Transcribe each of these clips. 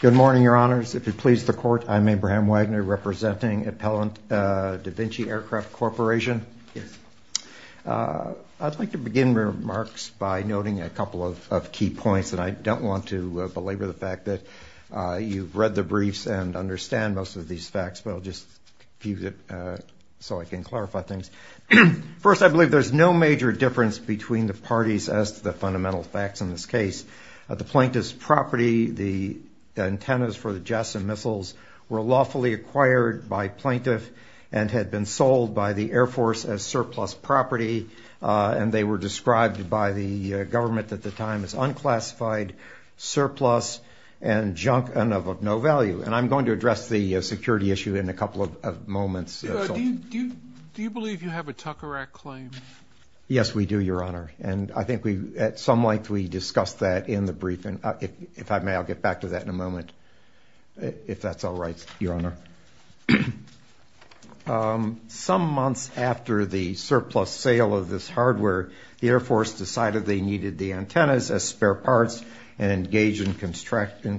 Good morning, Your Honors. If it pleases the Court, I'm Abraham Wagner, representing Appellant DaVinci Aircraft Corporation. I'd like to begin remarks by noting a couple of key points, and I don't want to belabor the fact that you've read the briefs and understand most of these facts, but I'll just use it so I can clarify things. First, I believe there's no major difference between the parties as to the fundamental facts in this case. The plaintiff's property, the antennas for the jets and missiles, were lawfully acquired by plaintiff and had been sold by the Air Force as surplus property, and they were described by the government at the time as unclassified, surplus, and junk and of no value. And I'm going to address the security issue in a couple of moments. Do you believe you have a Tucker Act claim? Yes, we do, Your Honor, and I think at some length we discussed that in the brief, and if I may, I'll get back to that in a moment, if that's all right, Your Honor. Some months after the surplus sale of this hardware, the Air Force decided they needed the antennas as spare parts and engaged in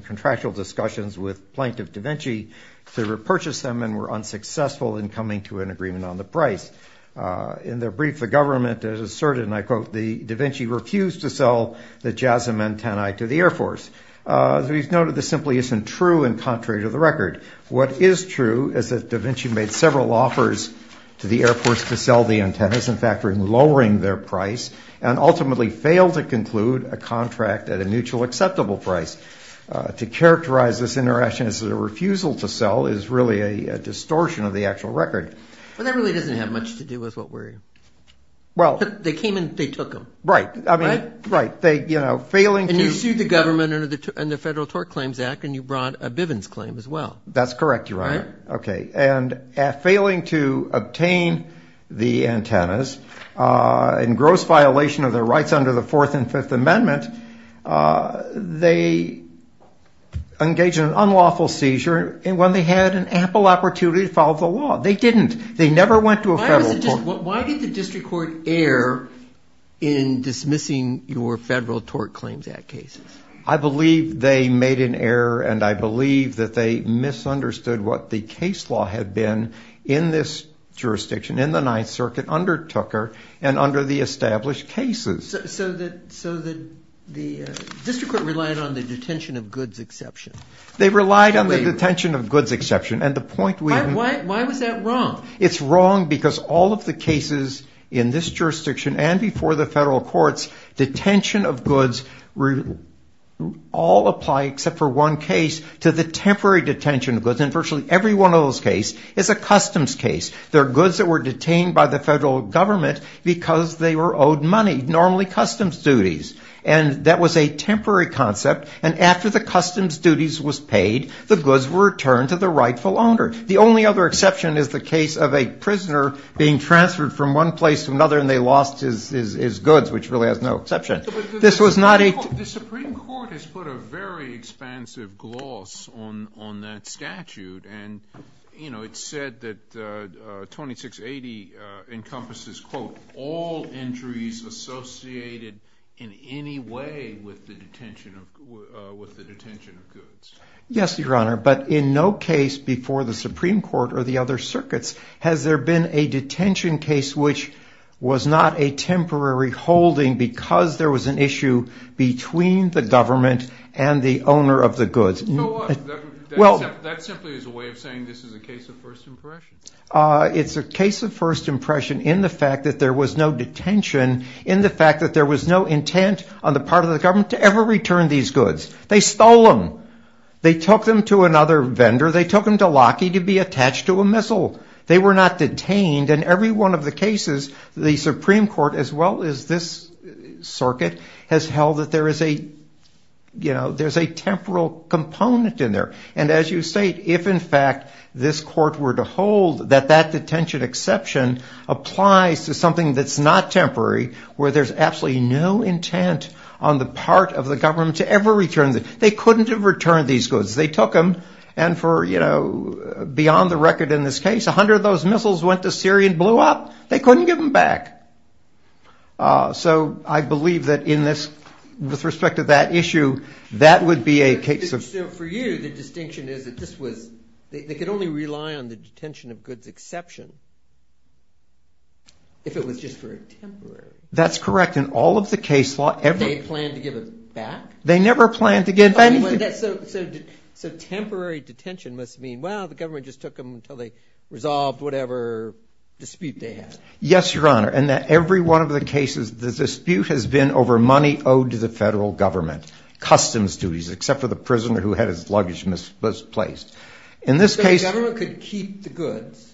contractual discussions with Plaintiff DaVinci to repurchase them and were unsuccessful in coming to an agreement on the price. In their brief, the government asserted, and I quote, DaVinci refused to sell the JASM antennae to the Air Force. We've noted this simply isn't true and contrary to the record. What is true is that DaVinci made several offers to the Air Force to sell the antennas, in fact lowering their price, and ultimately failed to conclude a contract at a mutual acceptable price. To characterize this interaction as a refusal to sell is really a distortion of the actual record. But that really doesn't have much to do with what we're, they came and they took them. Right, I mean, right, they, you know, failing to And you sued the government under the Federal Tort Claims Act and you brought a Bivens claim as well. That's correct, Your Honor. All right. Okay, and at failing to obtain the antennas in gross violation of their rights under the Fourth and Fifth Amendment, they engaged in an unlawful seizure when they had an ample opportunity to follow the law. They didn't. They never went to a federal court. Why did the district court err in dismissing your Federal Tort Claims Act cases? I believe they made an error and I believe that they misunderstood what the case law had been in this jurisdiction, in the Ninth Circuit, under Tucker and under the established cases. So the district court relied on the detention of goods exception. They relied on the detention of goods exception. And the point we Why was that wrong? It's wrong because all of the cases in this jurisdiction and before the federal courts, detention of goods all apply except for one case to the temporary detention of goods. And virtually every one of those cases is a customs case. They're goods that were detained by the federal government because they were owed money, normally customs duties. And that was a temporary concept. And after the customs duties was paid, the goods were returned to the rightful owner. The only other exception is the case of a prisoner being transferred from one place to another and they lost his goods, which really has no exception. This was not a The Supreme Court has put a very expansive gloss on that statute. It's said that 2680 encompasses Yes, Your Honor, but in no case before the Supreme Court or the other circuits has there been a detention case which was not a temporary holding because there was an issue between the government and the owner of the goods. Well, that simply is a way of saying this is a case of first impression. It's a case of first impression in the fact that there was no detention, in the fact that there was no intent on the part of the government to ever return these goods. They stole them. They took them to another vendor. They took them to Lockheed to be attached to a missile. They were not detained. And every one of the cases, the Supreme Court, as well as this circuit, has held that there is a temporal component in there. And as you say, if in fact this court were to hold that that detention exception applies to something that's not temporary, where there's absolutely no intent on the part of the government to ever return them, they couldn't have returned these goods. They took them and for beyond the record in this case, 100 of those missiles went to Syria and blew up. They couldn't give them back. So I believe that in this, with respect to that issue, that would be a case of. So for you, the distinction is that this was, they could only rely on the detention of goods exception if it was just for a temporary. That's correct. In all of the case law, every. They planned to give it back? They never planned to give anything. So temporary detention must mean, well, the government just took them until they resolved whatever dispute they had. Yes, Your Honor. In every one of the cases, the dispute has been over money owed to the federal government. Customs duties, except for the prisoner who had his luggage misplaced. In this case. So the government could keep the goods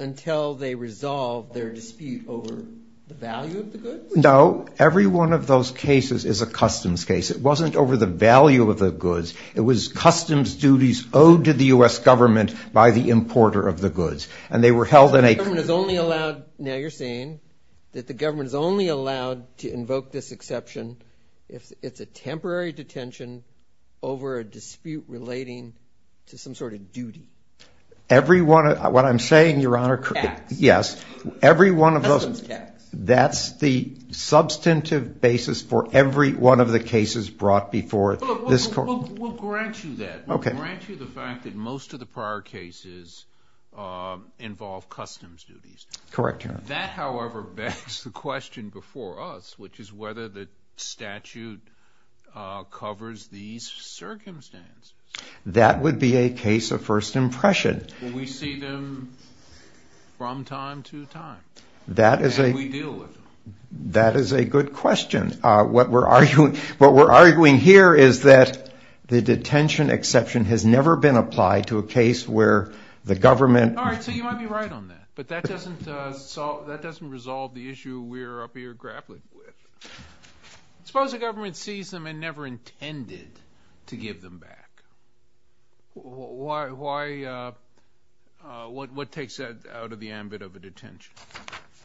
until they resolved their dispute over the value of the goods? No. Every one of those cases is a customs case. It wasn't over the value of the goods. It was customs duties owed to the U.S. government by the importer of the goods. So the government is only allowed, now you're saying, that the government is only allowed to invoke this exception if it's a temporary detention over a dispute relating to some sort of duty? Every one of, what I'm saying, Your Honor. Tax. Yes. Every one of those. Customs tax. That's the substantive basis for every one of the cases brought before this court. We'll grant you that. Okay. We'll grant you the fact that most of the prior cases involve customs duties. Correct, Your Honor. That, however, begs the question before us, which is whether the statute covers these circumstances. That would be a case of first impression. Will we see them from time to time? That is a good question. What we're arguing here is that the detention exception has never been applied to a case where the government. All right. So you might be right on that. But that doesn't resolve the issue we're up here grappling with. Suppose the government sees them and never intended to give them back. Why, what takes that out of the ambit of a detention?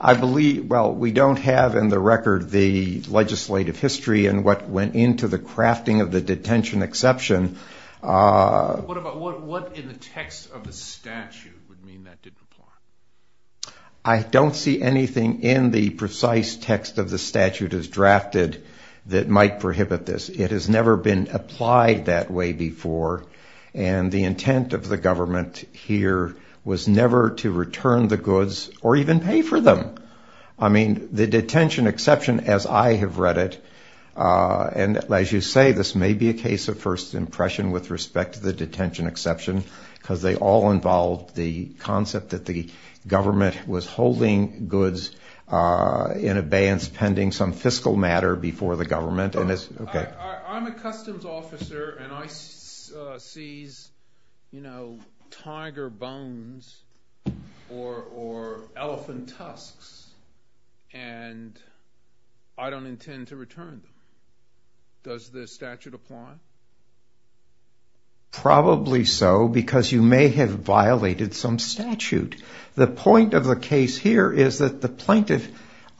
Well, we don't have in the record the legislative history and what went into the crafting of the detention exception. What in the text of the statute would mean that didn't apply? I don't see anything in the precise text of the statute as drafted that might prohibit this. It has never been applied that way before. And the intent of the government here was never to return the goods or even pay for them. I mean, the detention exception as I have read it, and as you say, this may be a case of first impression with respect to the detention exception, because they all involve the concept that the government was holding goods in abeyance pending some fiscal matter before the government. I'm a customs officer and I seize, you know, tiger bones or elephant tusks, and I don't intend to return them. Does the statute apply? Probably so, because you may have violated some statute. The point of the case here is that the plaintiff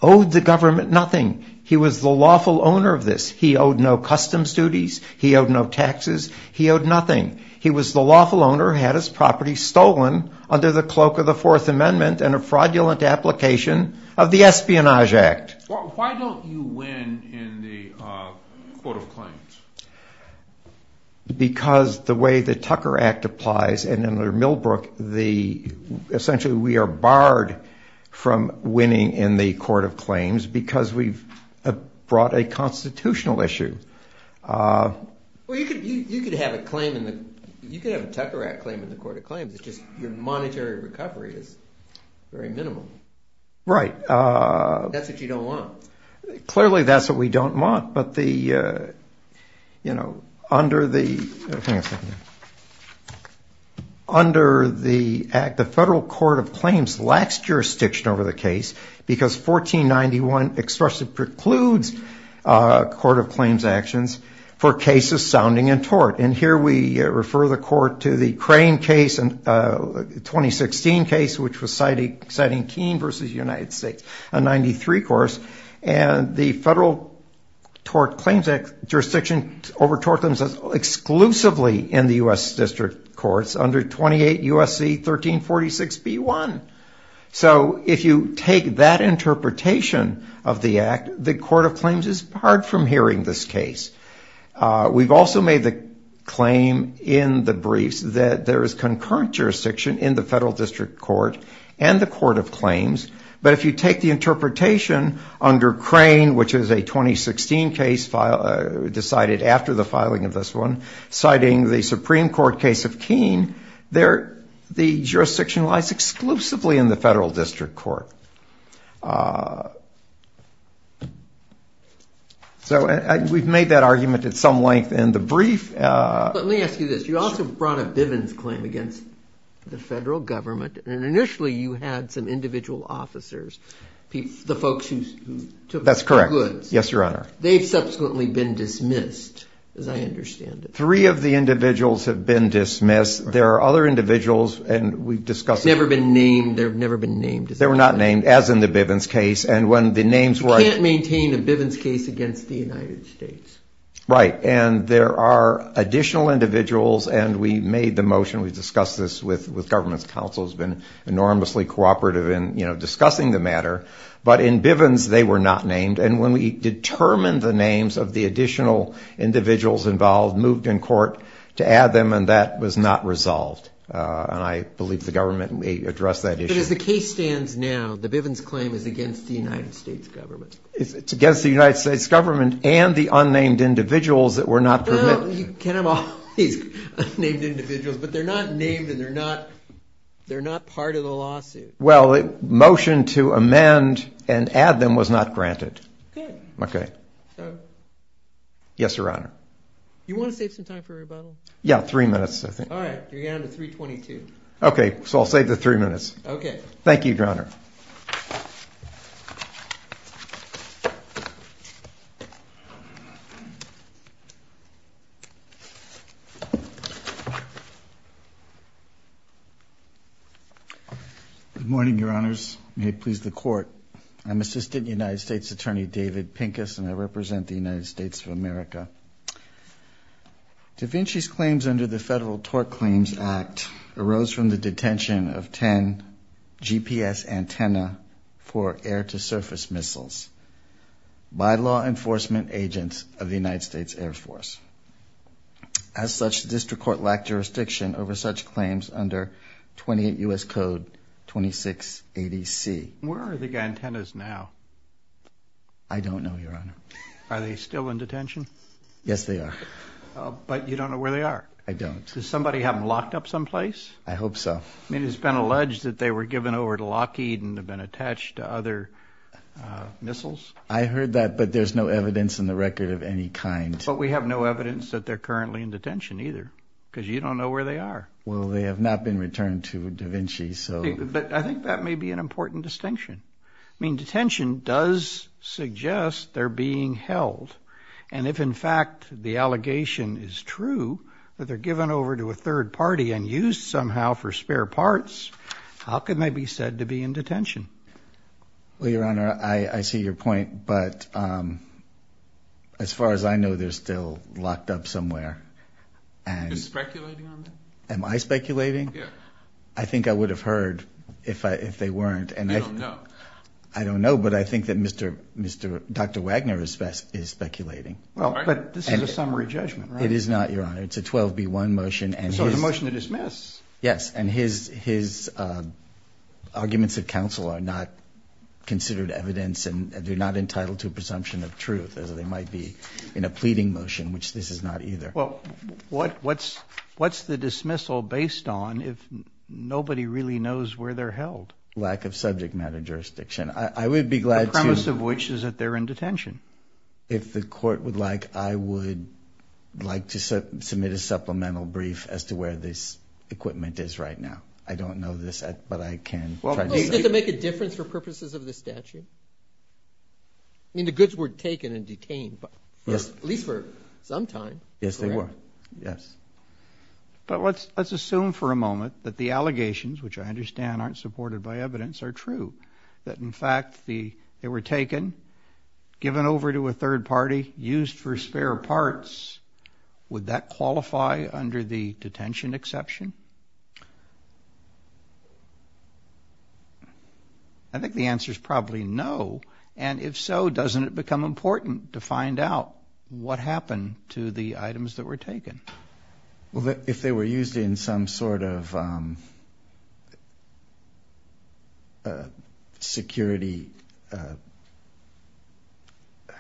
owed the government nothing. He was the lawful owner of this. He owed no customs duties. He owed no taxes. He owed nothing. He was the lawful owner, had his property stolen under the cloak of the Fourth Amendment and a fraudulent application of the Espionage Act. Why don't you win in the court of claims? Because the way the Tucker Act applies, and under Millbrook, essentially we are barred from winning in the court of claims because we've brought a constitutional issue. Well, you could have a Tucker Act claim in the court of claims. It's just your monetary recovery is very minimal. Right. That's what you don't want. Well, clearly that's what we don't want. But the, you know, under the federal court of claims lacks jurisdiction over the case because 1491 expressly precludes court of claims actions for cases sounding in tort. And here we refer the court to the Crane case, a 2016 case, which was citing Keene versus the United States, a 93 course. And the federal tort claims jurisdiction over tort claims is exclusively in the U.S. district courts under 28 U.S.C. 1346b1. So if you take that interpretation of the act, the court of claims is barred from hearing this case. We've also made the claim in the briefs that there is concurrent jurisdiction in the federal district court and the court of claims. But if you take the interpretation under Crane, which is a 2016 case decided after the filing of this one, citing the Supreme Court case of Keene, the jurisdiction lies exclusively in the federal district court. So we've made that argument at some length in the brief. Let me ask you this. You also brought a Bivens claim against the federal government. And initially you had some individual officers, the folks who took the goods. That's correct. Yes, Your Honor. They've subsequently been dismissed, as I understand it. Three of the individuals have been dismissed. There are other individuals. And we've discussed. Never been named. They've never been named. They were not named, as in the Bivens case. You can't maintain a Bivens case against the United States. Right. And there are additional individuals. And we made the motion. We've discussed this with government counsel. It's been enormously cooperative in discussing the matter. But in Bivens, they were not named. And when we determined the names of the additional individuals involved, moved in court to add them, and that was not resolved. And I believe the government may address that issue. But as the case stands now, the Bivens claim is against the United States government. It's against the United States government and the unnamed individuals that were not permitted. Well, you can have all these unnamed individuals, but they're not named and they're not part of the lawsuit. Well, a motion to amend and add them was not granted. Good. Okay. So. Yes, Your Honor. Yeah, three minutes, I think. All right. You're down to 3.22. Okay. So I'll save the three minutes. Okay. Thank you, Your Honor. Good morning, Your Honors. May it please the Court. I'm Assistant United States Attorney David Pincus, and I represent the United States of America. Da Vinci's claims under the Federal Tort Claims Act arose from the detention of ten GPS antenna for air-to-surface missiles by law enforcement agents of the United States Air Force. As such, the district court lacked jurisdiction over such claims under 28 U.S. Code 2680C. Where are the antennas now? I don't know, Your Honor. Are they still in detention? Yes, they are. But you don't know where they are? I don't. Does somebody have them locked up someplace? I hope so. I mean, it's been alleged that they were given over to Lockheed and have been attached to other missiles. I heard that, but there's no evidence in the record of any kind. But we have no evidence that they're currently in detention either, because you don't know where they are. Well, they have not been returned to Da Vinci, so. But I think that may be an important distinction. I mean, detention does suggest they're being held. And if, in fact, the allegation is true, that they're given over to a third party and used somehow for spare parts, how can they be said to be in detention? Well, Your Honor, I see your point, but as far as I know, they're still locked up somewhere. Are you speculating on that? Am I speculating? Yes. I think I would have heard if they weren't. I don't know. I don't know, but I think that Dr. Wagner is speculating. But this is a summary judgment, right? It is not, Your Honor. It's a 12B1 motion. So it's a motion to dismiss. Yes. And his arguments at counsel are not considered evidence and they're not entitled to a presumption of truth, as they might be in a pleading motion, which this is not either. Well, what's the dismissal based on if nobody really knows where they're held? Lack of subject matter jurisdiction. I would be glad to. The premise of which is that they're in detention. If the court would like, I would like to submit a supplemental brief as to where this equipment is right now. I don't know this, but I can try to see it. Does it make a difference for purposes of the statute? I mean, the goods were taken and detained, at least for some time. Yes, they were. Yes. But let's assume for a moment that the allegations, which I understand aren't supported by evidence, are true, that, in fact, they were taken, given over to a third party, used for spare parts. Would that qualify under the detention exception? I think the answer is probably no. And if so, doesn't it become important to find out what happened to the items that were taken? Well, if they were used in some sort of security.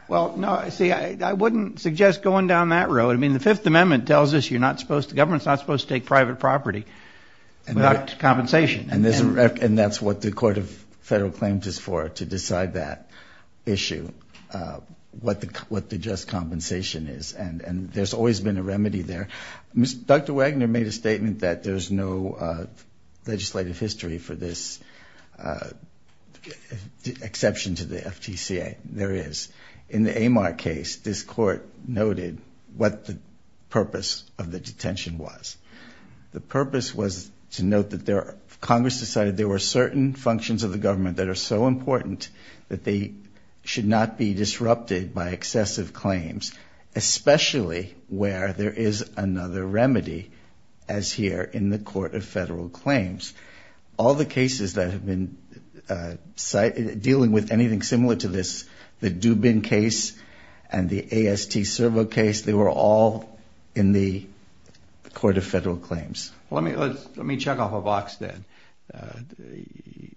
Well, no, see, I wouldn't suggest going down that road. I mean, the Fifth Amendment tells us you're not supposed to, the government's not supposed to take private property without compensation. And that's what the Court of Federal Claims is for, to decide that issue, what the just compensation is. And there's always been a remedy there. Dr. Wagner made a statement that there's no legislative history for this exception to the FTCA. There is. In the Amar case, this Court noted what the purpose of the detention was. The purpose was to note that Congress decided there were certain functions of the government that are so important that they should not be disrupted by excessive claims, especially where there is another remedy, as here in the Court of Federal Claims. All the cases that have been dealing with anything similar to this, the Dubin case and the AST Servo case, they were all in the Court of Federal Claims. Well, let me check off a box then.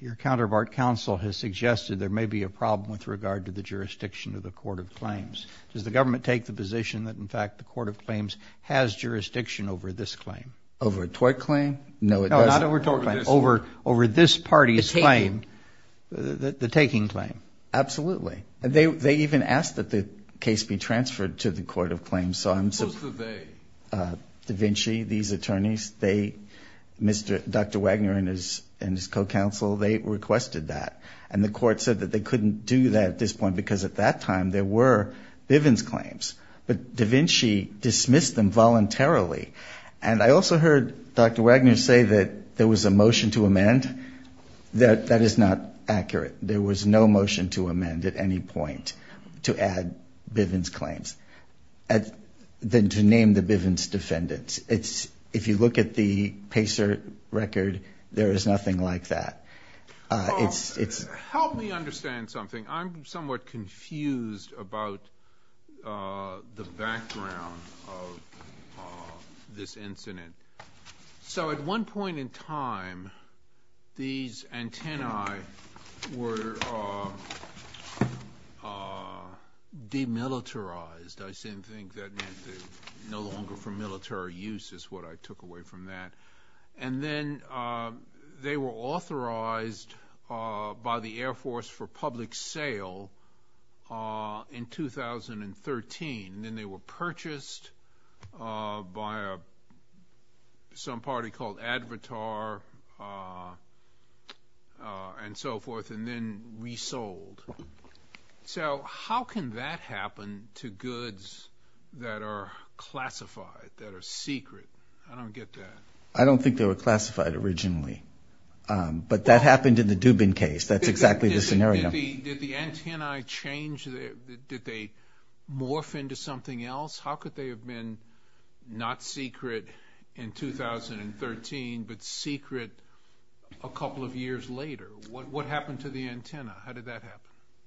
Your counterpart counsel has suggested there may be a problem with regard to the jurisdiction of the Court of Claims. Does the government take the position that, in fact, the Court of Claims has jurisdiction over this claim? Over a tort claim? No, it doesn't. No, not over a tort claim, over this party's claim, the taking claim. Absolutely. They even asked that the case be transferred to the Court of Claims. Who said they? Da Vinci, these attorneys, Dr. Wagner and his co-counsel, they requested that. And the Court said that they couldn't do that at this point because at that time there were Bivens claims. But Da Vinci dismissed them voluntarily. And I also heard Dr. Wagner say that there was a motion to amend. That is not accurate. There was no motion to amend at any point to add Bivens claims than to name the Bivens defendants. If you look at the Pacer record, there is nothing like that. Help me understand something. I'm somewhat confused about the background of this incident. So at one point in time, these antennae were demilitarized. I seem to think that meant no longer for military use is what I took away from that. And then they were authorized by the Air Force for public sale in 2013. And then they were purchased by some party called Advertar and so forth, and then resold. So how can that happen to goods that are classified, that are secret? I don't get that. I don't think they were classified originally. But that happened in the Dubin case. That's exactly the scenario. Did the antennae change? Did they morph into something else? How could they have been not secret in 2013, but secret a couple of years later? What happened to the antennae? How did that happen?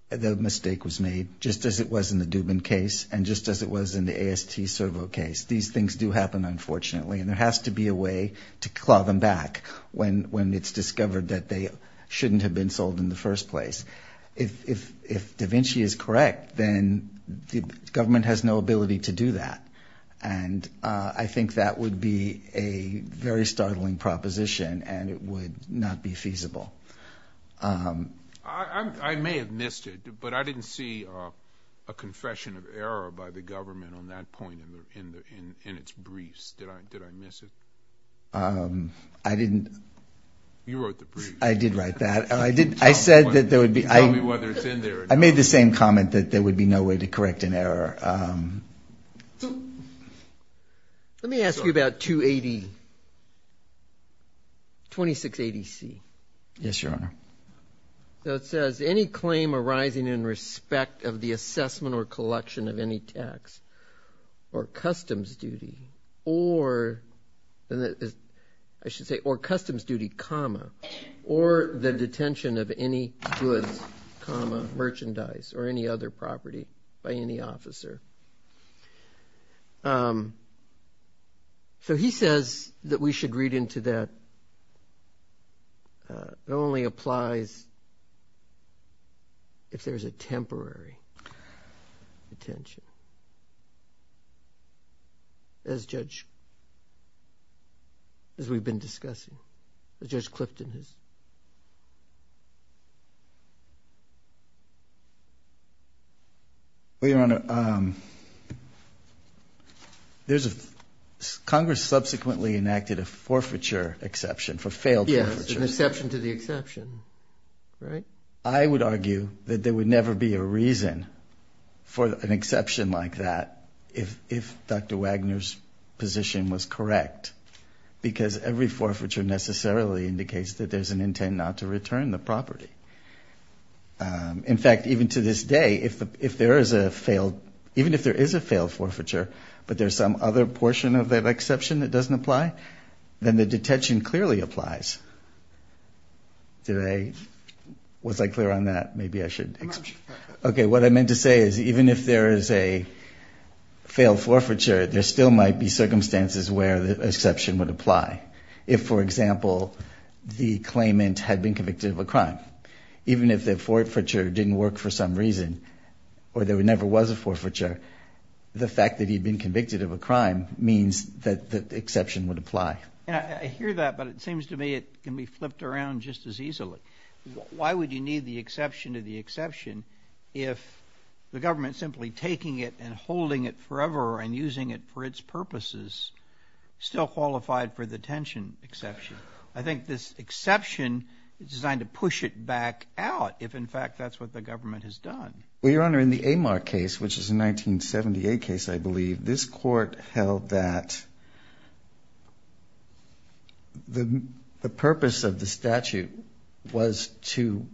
The mistake was made, just as it was in the Dubin case and just as it was in the AST Servo case. These things do happen, unfortunately. And there has to be a way to claw them back when it's discovered that they shouldn't have been sold in the first place. If da Vinci is correct, then the government has no ability to do that. And I think that would be a very startling proposition, and it would not be feasible. I may have missed it, but I didn't see a confession of error by the government on that point in its briefs. Did I miss it? I didn't. You wrote the briefs. I did write that. You told me whether it's in there or not. I made the same comment that there would be no way to correct an error. Yes, Your Honor. So it says, any claim arising in respect of the assessment or collection of any tax or customs duty or, I should say, or customs duty, comma, or the detention of any goods, comma, merchandise or any other property by any officer. So he says that we should read into that. It only applies if there's a temporary detention, as Judge, as we've been discussing, as Judge Clifton has. Well, Your Honor, Congress subsequently enacted a forfeiture exception for failed forfeiture. Yes, an exception to the exception, right? I would argue that there would never be a reason for an exception like that if Dr. Wagner's position was correct, because every forfeiture necessarily indicates that there's an intent not to return the property. In fact, even to this day, if there is a failed, even if there is a failed forfeiture, but there's some other portion of that exception that doesn't apply, then the detention clearly applies. Did I, was I clear on that? Maybe I should. Okay, what I meant to say is even if there is a failed forfeiture, there still might be circumstances where the exception would apply. If, for example, the claimant had been convicted of a crime, even if the forfeiture didn't work for some reason or there never was a forfeiture, the fact that he'd been convicted of a crime means that the exception would apply. I hear that, but it seems to me it can be flipped around just as easily. Why would you need the exception to the exception if the government simply taking it and holding it forever and using it for its purposes still qualified for the detention exception? I think this exception is designed to push it back out if, in fact, that's what the government has done. Well, Your Honor, in the Amar case, which is a 1978 case, I believe, this court held that the purpose of the statute was to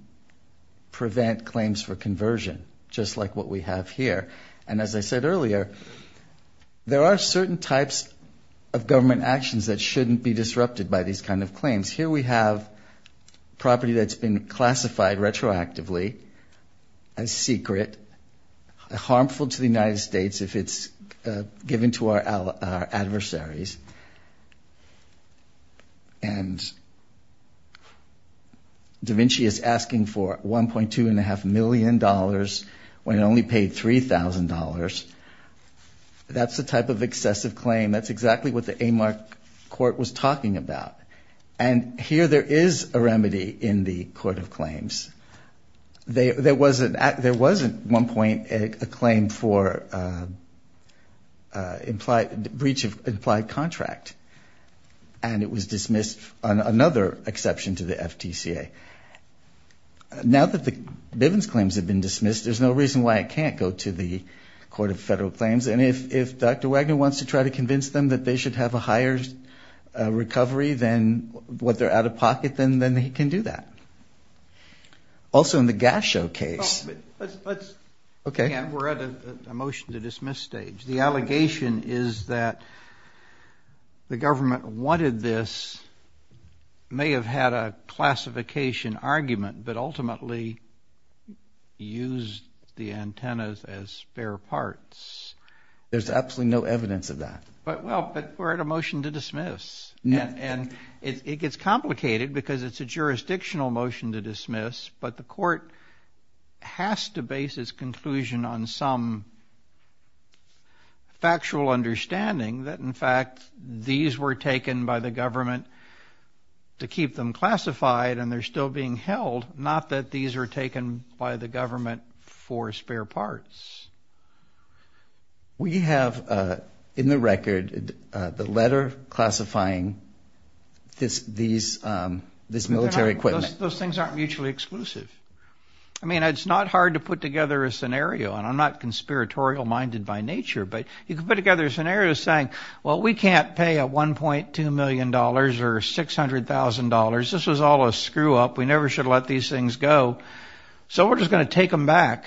prevent claims for conversion, just like what we have here. And as I said earlier, there are certain types of government actions that shouldn't be disrupted by these kind of claims. Here we have property that's been classified retroactively as secret, harmful to the United States if it's given to our adversaries. And da Vinci is asking for $1.25 million when it only paid $3,000. That's the type of excessive claim. That's exactly what the Amar court was talking about. And here there is a remedy in the court of claims. There wasn't at one point a claim for breach of implied contract, and it was dismissed on another exception to the FTCA. Now that the Bivens claims have been dismissed, there's no reason why it can't go to the court of federal claims. And if Dr. Wagner wants to try to convince them that they should have a higher recovery than what they're out of pocket, then he can do that. Also in the Gashow case. Okay. We're at a motion to dismiss stage. The allegation is that the government wanted this, may have had a classification argument, but ultimately used the antennas as spare parts. There's absolutely no evidence of that. Well, but we're at a motion to dismiss. And it gets complicated because it's a jurisdictional motion to dismiss, but the court has to base its conclusion on some factual understanding that, in fact, these were taken by the government to keep them classified and they're still being held, not that these are taken by the government for spare parts. We have in the record the letter classifying this military equipment. Those things aren't mutually exclusive. I mean, it's not hard to put together a scenario, and I'm not conspiratorial-minded by nature, but you can put together a scenario saying, well, we can't pay a $1.2 million or $600,000. This was all a screw-up. We never should have let these things go. So we're just going to take them back,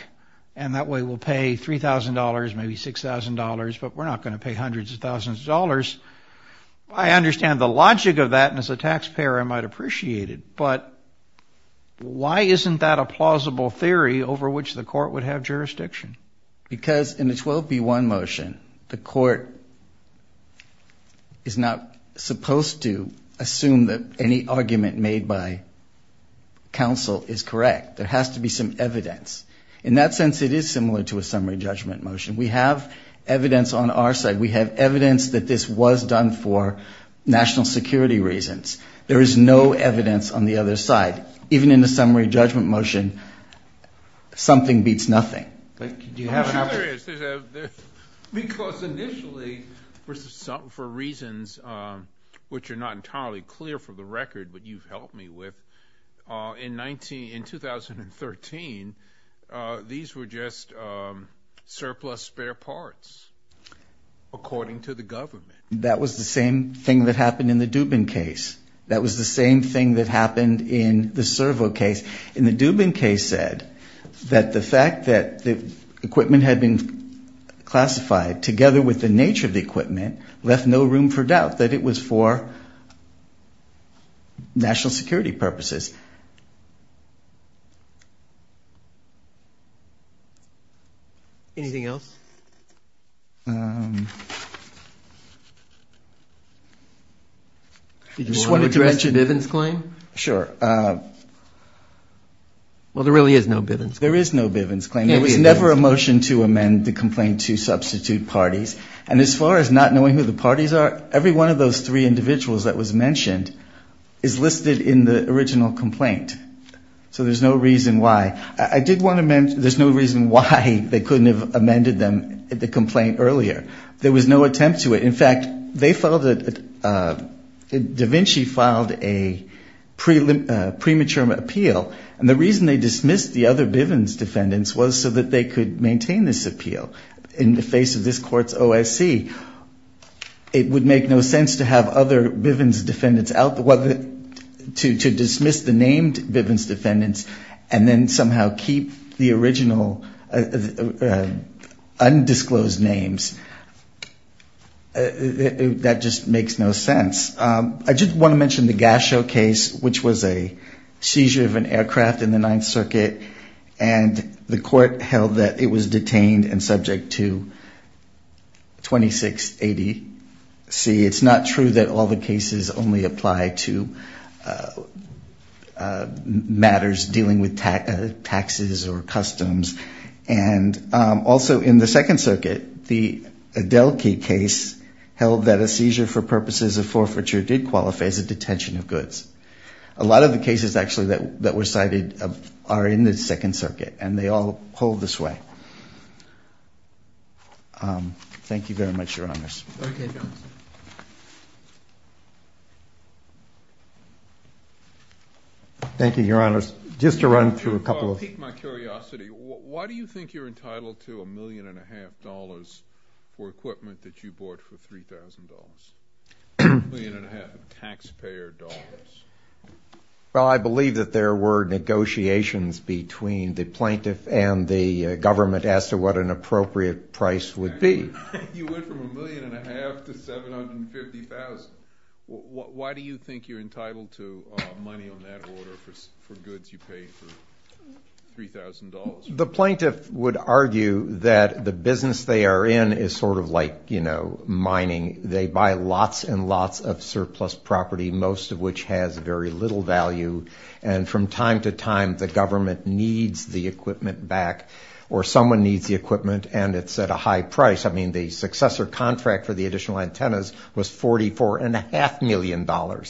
and that way we'll pay $3,000, maybe $6,000, but we're not going to pay hundreds of thousands of dollars. I understand the logic of that, and as a taxpayer I might appreciate it, but why isn't that a plausible theory over which the court would have jurisdiction? Because in a 12b-1 motion, the court is not supposed to assume that any argument made by counsel is correct. There has to be some evidence. In that sense, it is similar to a summary judgment motion. We have evidence on our side. We have evidence that this was done for national security reasons. There is no evidence on the other side. But even in a summary judgment motion, something beats nothing. Do you have another? Because initially, for reasons which are not entirely clear for the record, but you've helped me with, in 2013, these were just surplus spare parts, according to the government. That was the same thing that happened in the Dubin case. That was the same thing that happened in the Servo case. In the Dubin case said that the fact that the equipment had been classified, together with the nature of the equipment, left no room for doubt that it was for national security purposes. Anything else? Sure. Well, there really is no Bivens claim. There is no Bivens claim. There was never a motion to amend the complaint to substitute parties. And as far as not knowing who the parties are, every one of those three individuals that was mentioned is listed in the original complaint. So there's no reason why. I did want to mention there's no reason why they couldn't have amended the complaint earlier. There was no attempt to it. In fact, Da Vinci filed a premature appeal, and the reason they dismissed the other Bivens defendants was so that they could maintain this appeal in the face of this court's OSC. It would make no sense to have other Bivens defendants, to dismiss the named Bivens defendants and then somehow keep the original undisclosed names. That just makes no sense. I did want to mention the Gasho case, which was a seizure of an aircraft in the Ninth Circuit, and the court held that it was detained and subject to 2680C. It's not true that all the cases only apply to matters dealing with taxes or customs. Also, in the Second Circuit, the Adelke case held that a seizure for purposes of forfeiture did qualify as a detention of goods. A lot of the cases actually that were cited are in the Second Circuit, and they all hold this way. Thank you very much, Your Honors. Okay, Johnson. Thank you, Your Honors. Just to run through a couple of things. If you'll excuse my curiosity, why do you think you're entitled to $1.5 million for equipment that you bought for $3,000, $1.5 million in taxpayer dollars? Well, I believe that there were negotiations between the plaintiff and the government as to what an appropriate price would be. You went from $1.5 million to $750,000. Why do you think you're entitled to money on that order for goods you paid for $3,000? The plaintiff would argue that the business they are in is sort of like mining. They buy lots and lots of surplus property, most of which has very little value, and from time to time the government needs the equipment back or someone needs the equipment and it's at a high price. I mean, the successor contract for the additional antennas was $44.5 million. I'm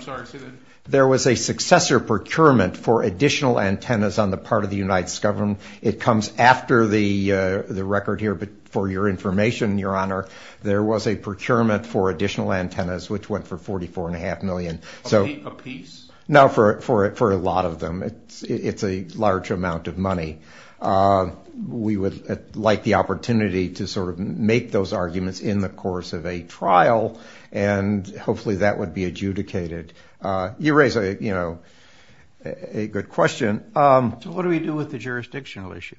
sorry, say that again. There was a successor procurement for additional antennas on the part of the United States government. It comes after the record here, but for your information, Your Honor, there was a procurement for additional antennas, which went for $44.5 million. A piece? No, for a lot of them. It's a large amount of money. We would like the opportunity to sort of make those arguments in the course of a trial, and hopefully that would be adjudicated. You raise a good question. So what do we do with the jurisdictional issue?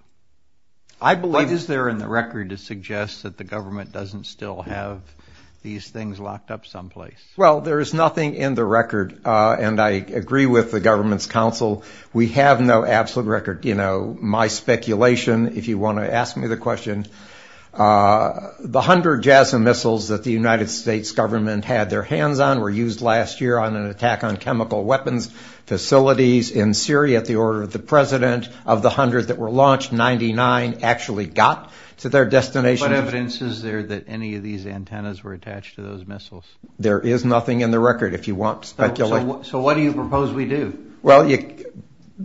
I believe it is there in the record to suggest that the government doesn't still have these things locked up someplace. Well, there is nothing in the record, and I agree with the government's counsel. We have no absolute record. You know, my speculation, if you want to ask me the question, the 100 JASA missiles that the United States government had their hands on were used last year on an attack on chemical weapons facilities in Syria at the order of the president. Of the 100 that were launched, 99 actually got to their destination. What evidence is there that any of these antennas were attached to those missiles? There is nothing in the record, if you want speculation. So what do you propose we do? Well, you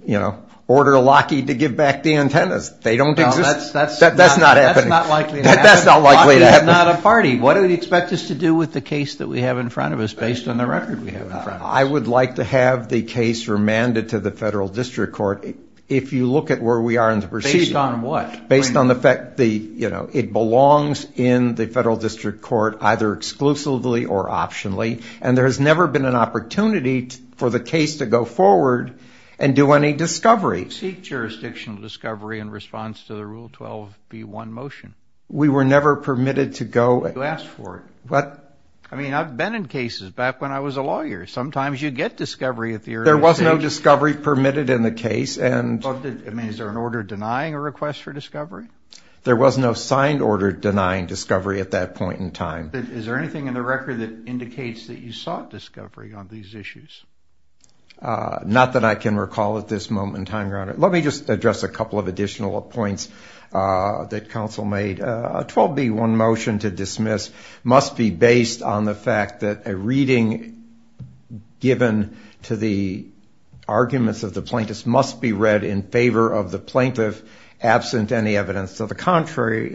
know, order Lockheed to give back the antennas. They don't exist. That's not happening. That's not likely to happen. That's not likely to happen. Lockheed is not a party. What do you expect us to do with the case that we have in front of us based on the record we have in front of us? I would like to have the case remanded to the federal district court. If you look at where we are in the proceedings. Based on what? Based on the fact, you know, it belongs in the federal district court either exclusively or optionally, and there has never been an opportunity for the case to go forward and do any discovery. Seek jurisdictional discovery in response to the Rule 12b-1 motion. We were never permitted to go. You asked for it. What? I mean, I've been in cases back when I was a lawyer. Sometimes you get discovery at the earliest stage. There was no discovery permitted in the case. I mean, is there an order denying a request for discovery? There was no signed order denying discovery at that point in time. Is there anything in the record that indicates that you sought discovery on these issues? Not that I can recall at this moment in time, Your Honor. Let me just address a couple of additional points that counsel made. A 12b-1 motion to dismiss must be based on the fact that a reading given to the arguments of the plaintiffs must be read in favor of the plaintiff absent any evidence to the contrary.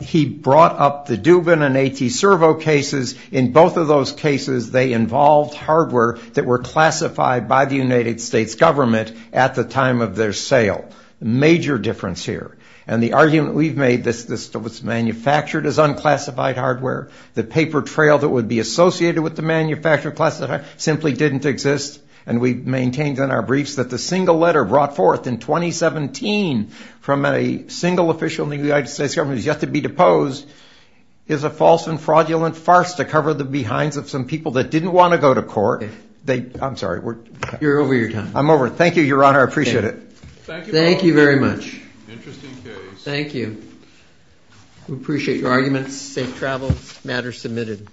He brought up the Dubin and A.T. Servo cases. In both of those cases, they involved hardware that were classified by the United States government at the time of their sale. Major difference here. And the argument we've made that this was manufactured as unclassified hardware, the paper trail that would be associated with the manufacture of classified hardware simply didn't exist, and we maintained in our briefs that the single letter brought forth in 2017 from a single official in the United States government who's yet to be deposed is a false and fraudulent farce to cover the behinds of some people that didn't want to go to court. I'm sorry. You're over your time. I'm over it. Thank you, Your Honor. I appreciate it. Thank you very much. Interesting case. Thank you. We appreciate your arguments. Safe travels. Matter submitted.